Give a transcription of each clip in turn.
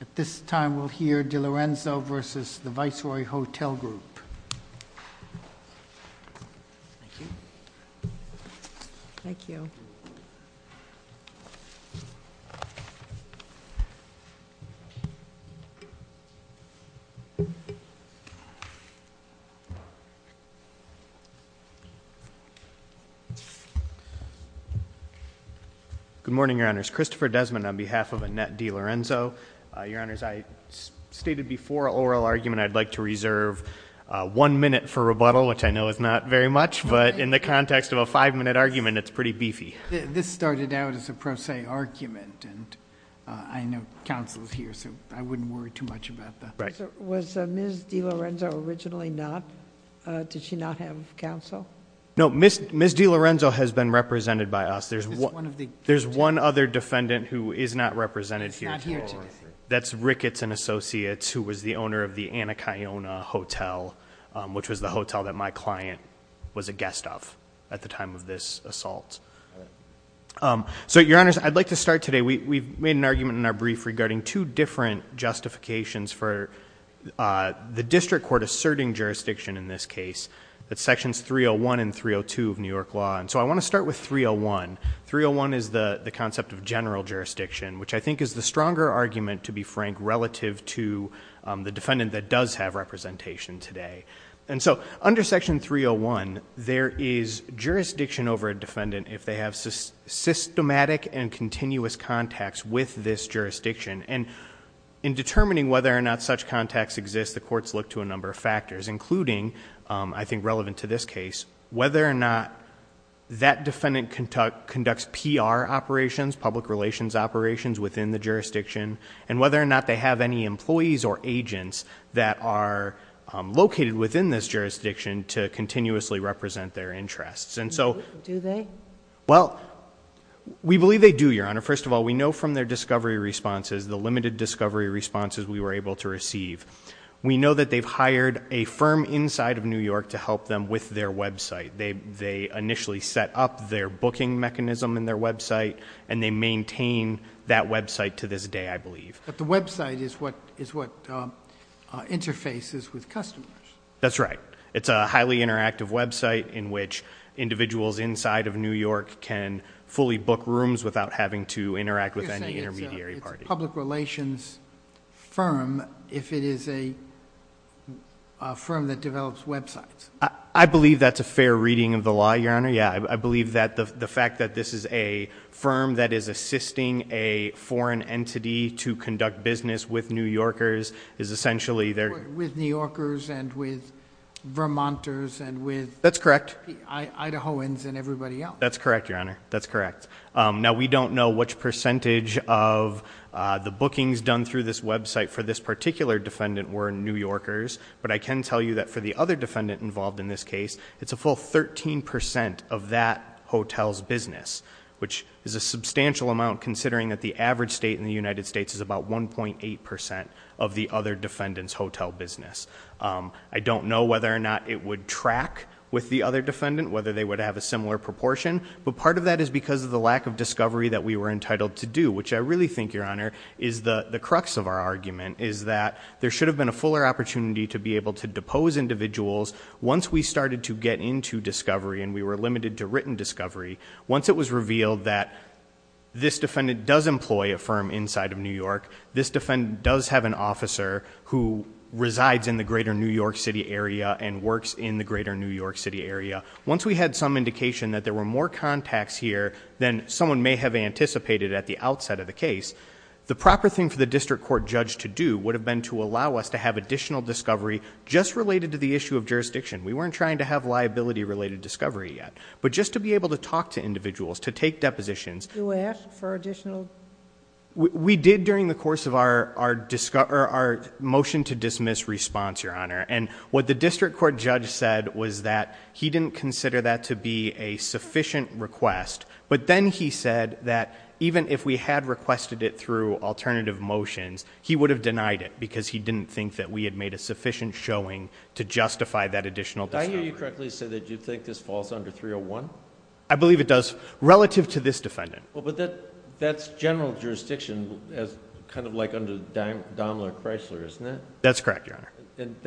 At this time, we'll hear DiLorenzo v. The Viceroy Hotel Group. Thank you. Thank you. Good morning, Your Honors. Christopher Desmond on behalf of Annette DiLorenzo. Your Honors, I stated before an oral argument I'd like to reserve one minute for rebuttal, which I know is not very much, but in the context of a five-minute argument, it's pretty beefy. This started out as a pro se argument, and I know counsel's here, so I wouldn't worry too much about that. Was Ms. DiLorenzo originally not, did she not have counsel? No, Ms. DiLorenzo has been represented by us. There's one other defendant who is not represented here. That's Ricketts and Associates, who was the owner of the Anacayona Hotel, which was the hotel that my client was a guest of at the time of this assault. So, Your Honors, I'd like to start today. We made an argument in our brief regarding two different justifications for the district court asserting jurisdiction in this case, that's sections 301 and 302 of New York law. And so I want to start with 301. 301 is the concept of general jurisdiction, which I think is the stronger argument, to be frank, relative to the defendant that does have representation today. And so under section 301, there is jurisdiction over a defendant if they have systematic and continuous contacts with this jurisdiction. And in determining whether or not such contacts exist, the courts look to a number of factors, including, I think relevant to this case, whether or not that defendant conducts PR operations, public relations operations within the jurisdiction, and whether or not they have any employees or agents that are located within this jurisdiction to continuously represent their interests. And so- Do they? Well, we believe they do, Your Honor. First of all, we know from their discovery responses, the limited discovery responses we were able to receive. We know that they've hired a firm inside of New York to help them with their website. They initially set up their booking mechanism in their website, and they maintain that website to this day, I believe. But the website is what interfaces with customers. That's right. It's a highly interactive website in which individuals inside of New York can fully book rooms without having to interact with any intermediary party. You're saying it's a public relations firm if it is a firm that develops websites. I believe that's a fair reading of the law, Your Honor. Yeah, I believe that the fact that this is a firm that is assisting a foreign entity to conduct business with New Yorkers is essentially their- With New Yorkers and with Vermonters and with- That's correct. Idahoans and everybody else. That's correct, Your Honor. That's correct. Now, we don't know which percentage of the bookings done through this website for this particular defendant were New Yorkers. But I can tell you that for the other defendant involved in this case, it's a full 13% of that hotel's business. Which is a substantial amount considering that the average state in the United States is about 1.8% of the other defendant's hotel business. I don't know whether or not it would track with the other defendant, whether they would have a similar proportion. But part of that is because of the lack of discovery that we were entitled to do. Which I really think, Your Honor, is the crux of our argument. Is that there should have been a fuller opportunity to be able to depose individuals. Once we started to get into discovery and we were limited to written discovery. Once it was revealed that this defendant does employ a firm inside of New York. This defendant does have an officer who resides in the greater New York City area and works in the greater New York City area. Once we had some indication that there were more contacts here than someone may have anticipated at the outset of the case. The proper thing for the district court judge to do would have been to allow us to have additional discovery. Just related to the issue of jurisdiction. We weren't trying to have liability related discovery yet. But just to be able to talk to individuals, to take depositions. You asked for additional? And what the district court judge said was that he didn't consider that to be a sufficient request. But then he said that even if we had requested it through alternative motions, he would have denied it because he didn't think that we had made a sufficient showing to justify that additional discovery. Did I hear you correctly say that you think this falls under 301? I believe it does, relative to this defendant. Well, but that's general jurisdiction as kind of like under Daimler Chrysler, isn't it? That's correct, Your Honor. And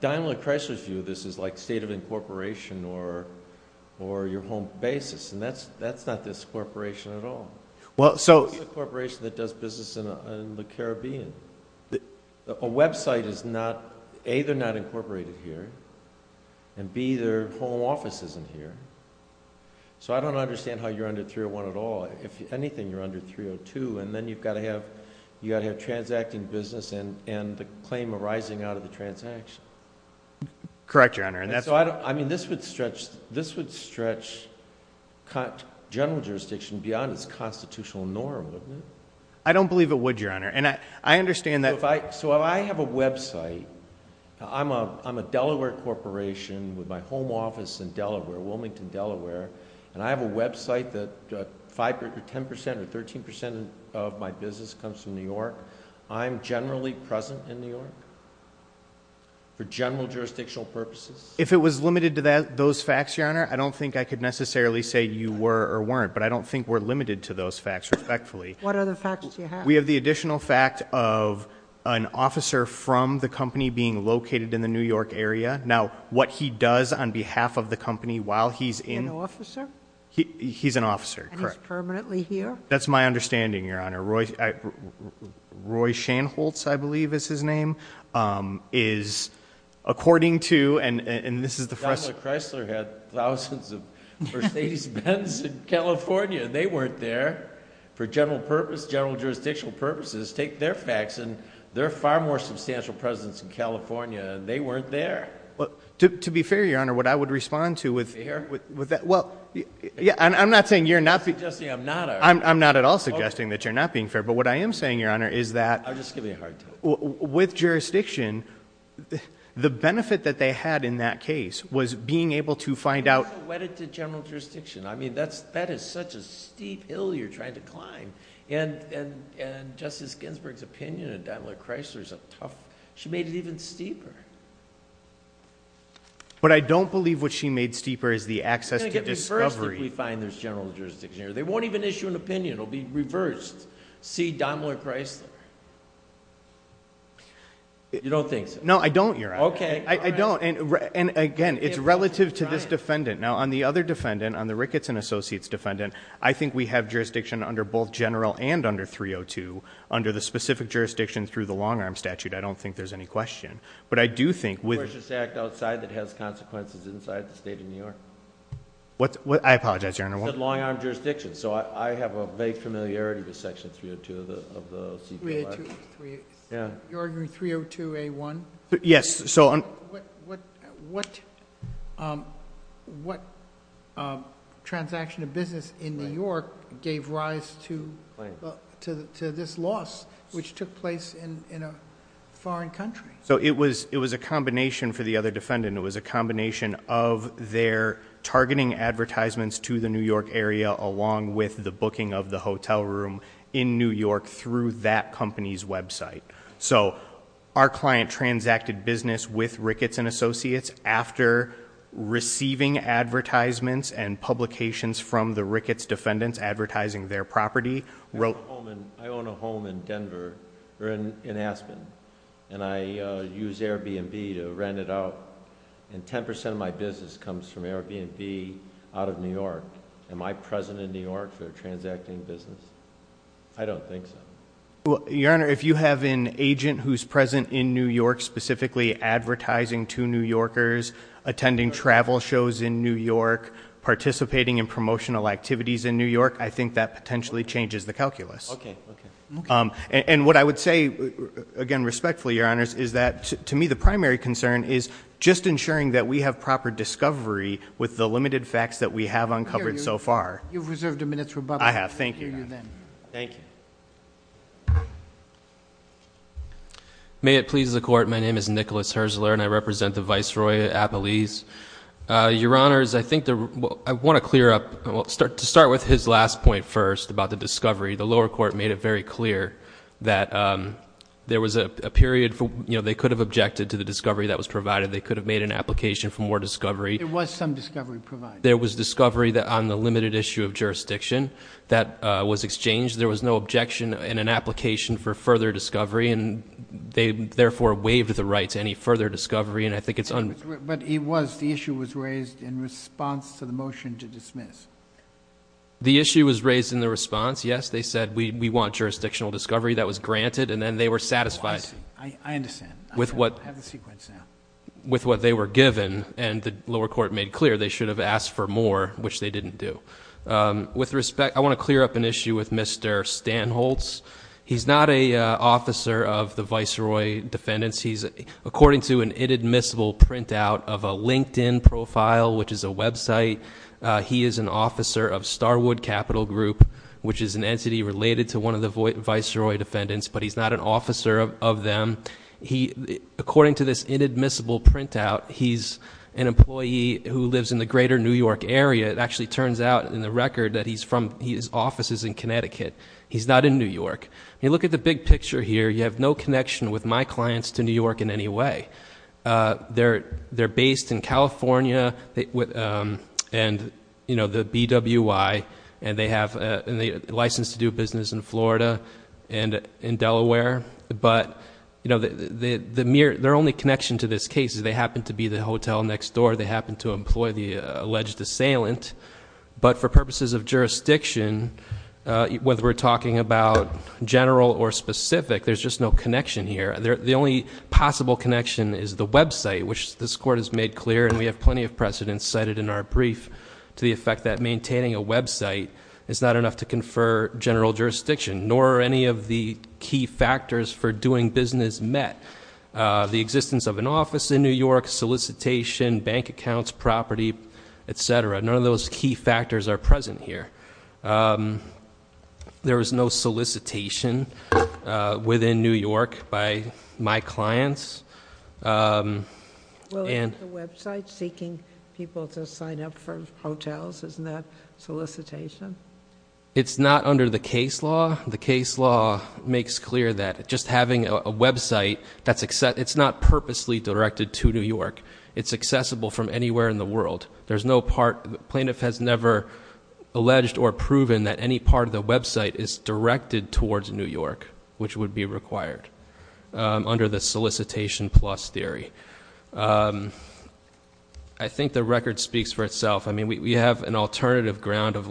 Daimler Chrysler's view of this is like state of incorporation or your home basis. And that's not this corporation at all. It's a corporation that does business in the Caribbean. A website is not, A, they're not incorporated here, and B, their home office isn't here. So I don't understand how you're under 301 at all. If anything, you're under 302. And then you've got to have transacting business and the claim arising out of the transaction. Correct, Your Honor. So I mean, this would stretch general jurisdiction beyond its constitutional norm, wouldn't it? I don't believe it would, Your Honor. And I understand that- So if I have a website, I'm a Delaware corporation with my home office in Delaware, Wilmington, Delaware. And I have a website that 5% or 10% or 13% of my business comes from New York. I'm generally present in New York for general jurisdictional purposes. If it was limited to those facts, Your Honor, I don't think I could necessarily say you were or weren't. But I don't think we're limited to those facts, respectfully. What other facts do you have? We have the additional fact of an officer from the company being located in the New York area. Now, what he does on behalf of the company while he's in- An officer? He's an officer, correct. And he's permanently here? That's my understanding, Your Honor. Roy Shanholz, I believe is his name, is according to, and this is the first- Donald Chrysler had thousands of first ladies' bends in California. They weren't there for general purpose, general jurisdictional purposes. Take their facts, and they're far more substantial presidents in California, and they weren't there? To be fair, Your Honor, what I would respond to with- Fair? With that, well, yeah, I'm not saying you're not- You're suggesting I'm not a- I'm not at all suggesting that you're not being fair. But what I am saying, Your Honor, is that- I'll just give you a hard time. With jurisdiction, the benefit that they had in that case was being able to find out- And also wedded to general jurisdiction. I mean, that is such a steep hill you're trying to climb. And Justice Ginsburg's opinion of Donnelly Chrysler is a tough... she made it even steeper. But I don't believe what she made steeper is the access to discovery. You're going to get reversed if we find there's general jurisdiction here. They won't even issue an opinion. It'll be reversed. See Donnelly Chrysler. You don't think so? No, I don't, Your Honor. Okay. I don't, and again, it's relative to this defendant. Now, on the other defendant, on the Ricketts and Associates defendant, I think we have jurisdiction under both general and under 302 under the specific jurisdiction through the long arm statute. I don't think there's any question. But I do think with- The Precious Act outside that has consequences inside the state of New York. What's, I apologize, Your Honor, I won't- The long arm jurisdiction. So I have a vague familiarity with section 302 of the CQI. 302A1? Yeah. You're arguing 302A1? Yes, so on- What transaction of business in New York gave rise to this loss, which took place in a foreign country? So it was a combination for the other defendant. It was a combination of their targeting advertisements to the New York area along with the booking of the hotel room in New York through that company's website. So our client transacted business with Ricketts and Associates after receiving advertisements and publications from the Ricketts defendants advertising their property, wrote- I own a home in Denver, or in Aspen, and I use Airbnb to rent it out. And 10% of my business comes from Airbnb out of New York. Am I present in New York for a transacting business? I don't think so. Your Honor, if you have an agent who's present in New York, specifically advertising to New Yorkers, attending travel shows in New York, participating in promotional activities in New York, I think that potentially changes the calculus. Okay, okay. And what I would say, again respectfully, Your Honors, is that to me the primary concern is just ensuring that we have proper discovery with the limited facts that we have uncovered so far. You've reserved a minute to rebut. I have, thank you. Thank you. May it please the court, my name is Nicholas Herzler and I represent the Viceroy at Appalese. Your Honors, I want to clear up, to start with his last point first about the discovery. The lower court made it very clear that there was a period, they could have objected to the discovery that was provided. They could have made an application for more discovery. There was some discovery provided. There was discovery on the limited issue of jurisdiction that was exchanged. There was no objection in an application for further discovery and they therefore waived the right to any further discovery and I think it's- But it was, the issue was raised in response to the motion to dismiss. The issue was raised in the response, yes. They said we want jurisdictional discovery. That was granted and then they were satisfied. I understand. I have the sequence now. With what they were given, and the lower court made clear, they should have asked for more, which they didn't do. With respect, I want to clear up an issue with Mr. Stanholz. He's not a officer of the Viceroy Defendants. He's, according to an inadmissible printout of a LinkedIn profile, which is a website, he is an officer of Starwood Capital Group, which is an entity related to one of the Viceroy Defendants, but he's not an officer of them. He, according to this inadmissible printout, he's an employee who lives in the greater New York area. It actually turns out in the record that he's from, his office is in Connecticut. He's not in New York. You look at the big picture here, you have no connection with my clients to New York in any way. They're based in California, and the BWI, and they have a license to do business in Florida and in Delaware. But their only connection to this case is they happen to be the hotel next door. They happen to employ the alleged assailant. But for purposes of jurisdiction, whether we're talking about general or specific, there's just no connection here. The only possible connection is the website, which this court has made clear, and we have plenty of precedents cited in our brief, to the effect that maintaining a website is not enough to confer general jurisdiction, nor are any of the key factors for doing business met. The existence of an office in New York, solicitation, bank accounts, property, etc. None of those key factors are present here. There is no solicitation within New York by my clients. And- The website seeking people to sign up for hotels, isn't that solicitation? It's not under the case law. The case law makes clear that just having a website, it's not purposely directed to New York. It's accessible from anywhere in the world. There's no part, the plaintiff has never alleged or proven that any part of the website is directed towards New York, which would be required under the solicitation plus theory. I think the record speaks for itself. I mean, we have an alternative ground of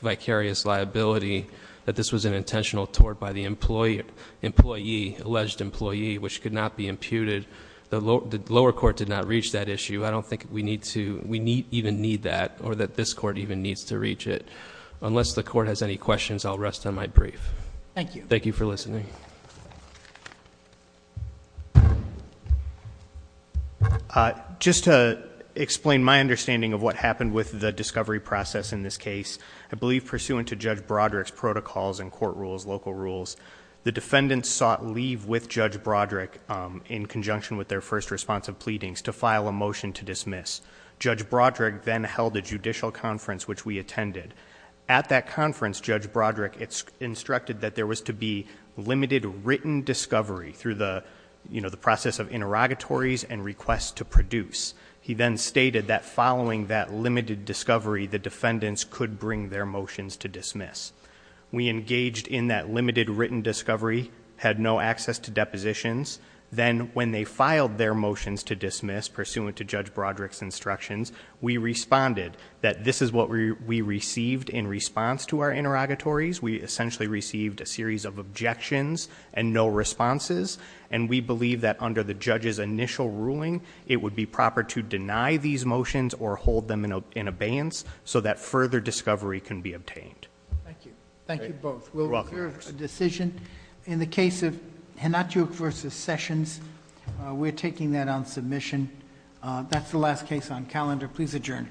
vicarious liability that this was an intentional tort by the employee, alleged employee, which could not be imputed. The lower court did not reach that issue. I don't think we need to, we need, even need that, or that this court even needs to reach it. Unless the court has any questions, I'll rest on my brief. Thank you. Thank you for listening. Thank you. Just to explain my understanding of what happened with the discovery process in this case. I believe pursuant to Judge Broderick's protocols and court rules, local rules, the defendants sought leave with Judge Broderick in conjunction with their first response of pleadings to file a motion to dismiss. Judge Broderick then held a judicial conference which we attended. At that conference, Judge Broderick instructed that there was to be limited written discovery through the process of interrogatories and requests to produce. He then stated that following that limited discovery, the defendants could bring their motions to dismiss. We engaged in that limited written discovery, had no access to depositions. Then when they filed their motions to dismiss, pursuant to Judge Broderick's instructions, we responded that this is what we received in response to our interrogatories. We essentially received a series of objections and no responses. And we believe that under the judge's initial ruling, it would be proper to deny these motions or hold them in abeyance so that further discovery can be obtained. Thank you. Thank you both. We'll hear a decision. In the case of Hnatuk versus Sessions, we're taking that on submission. That's the last case on calendar. Please adjourn to court.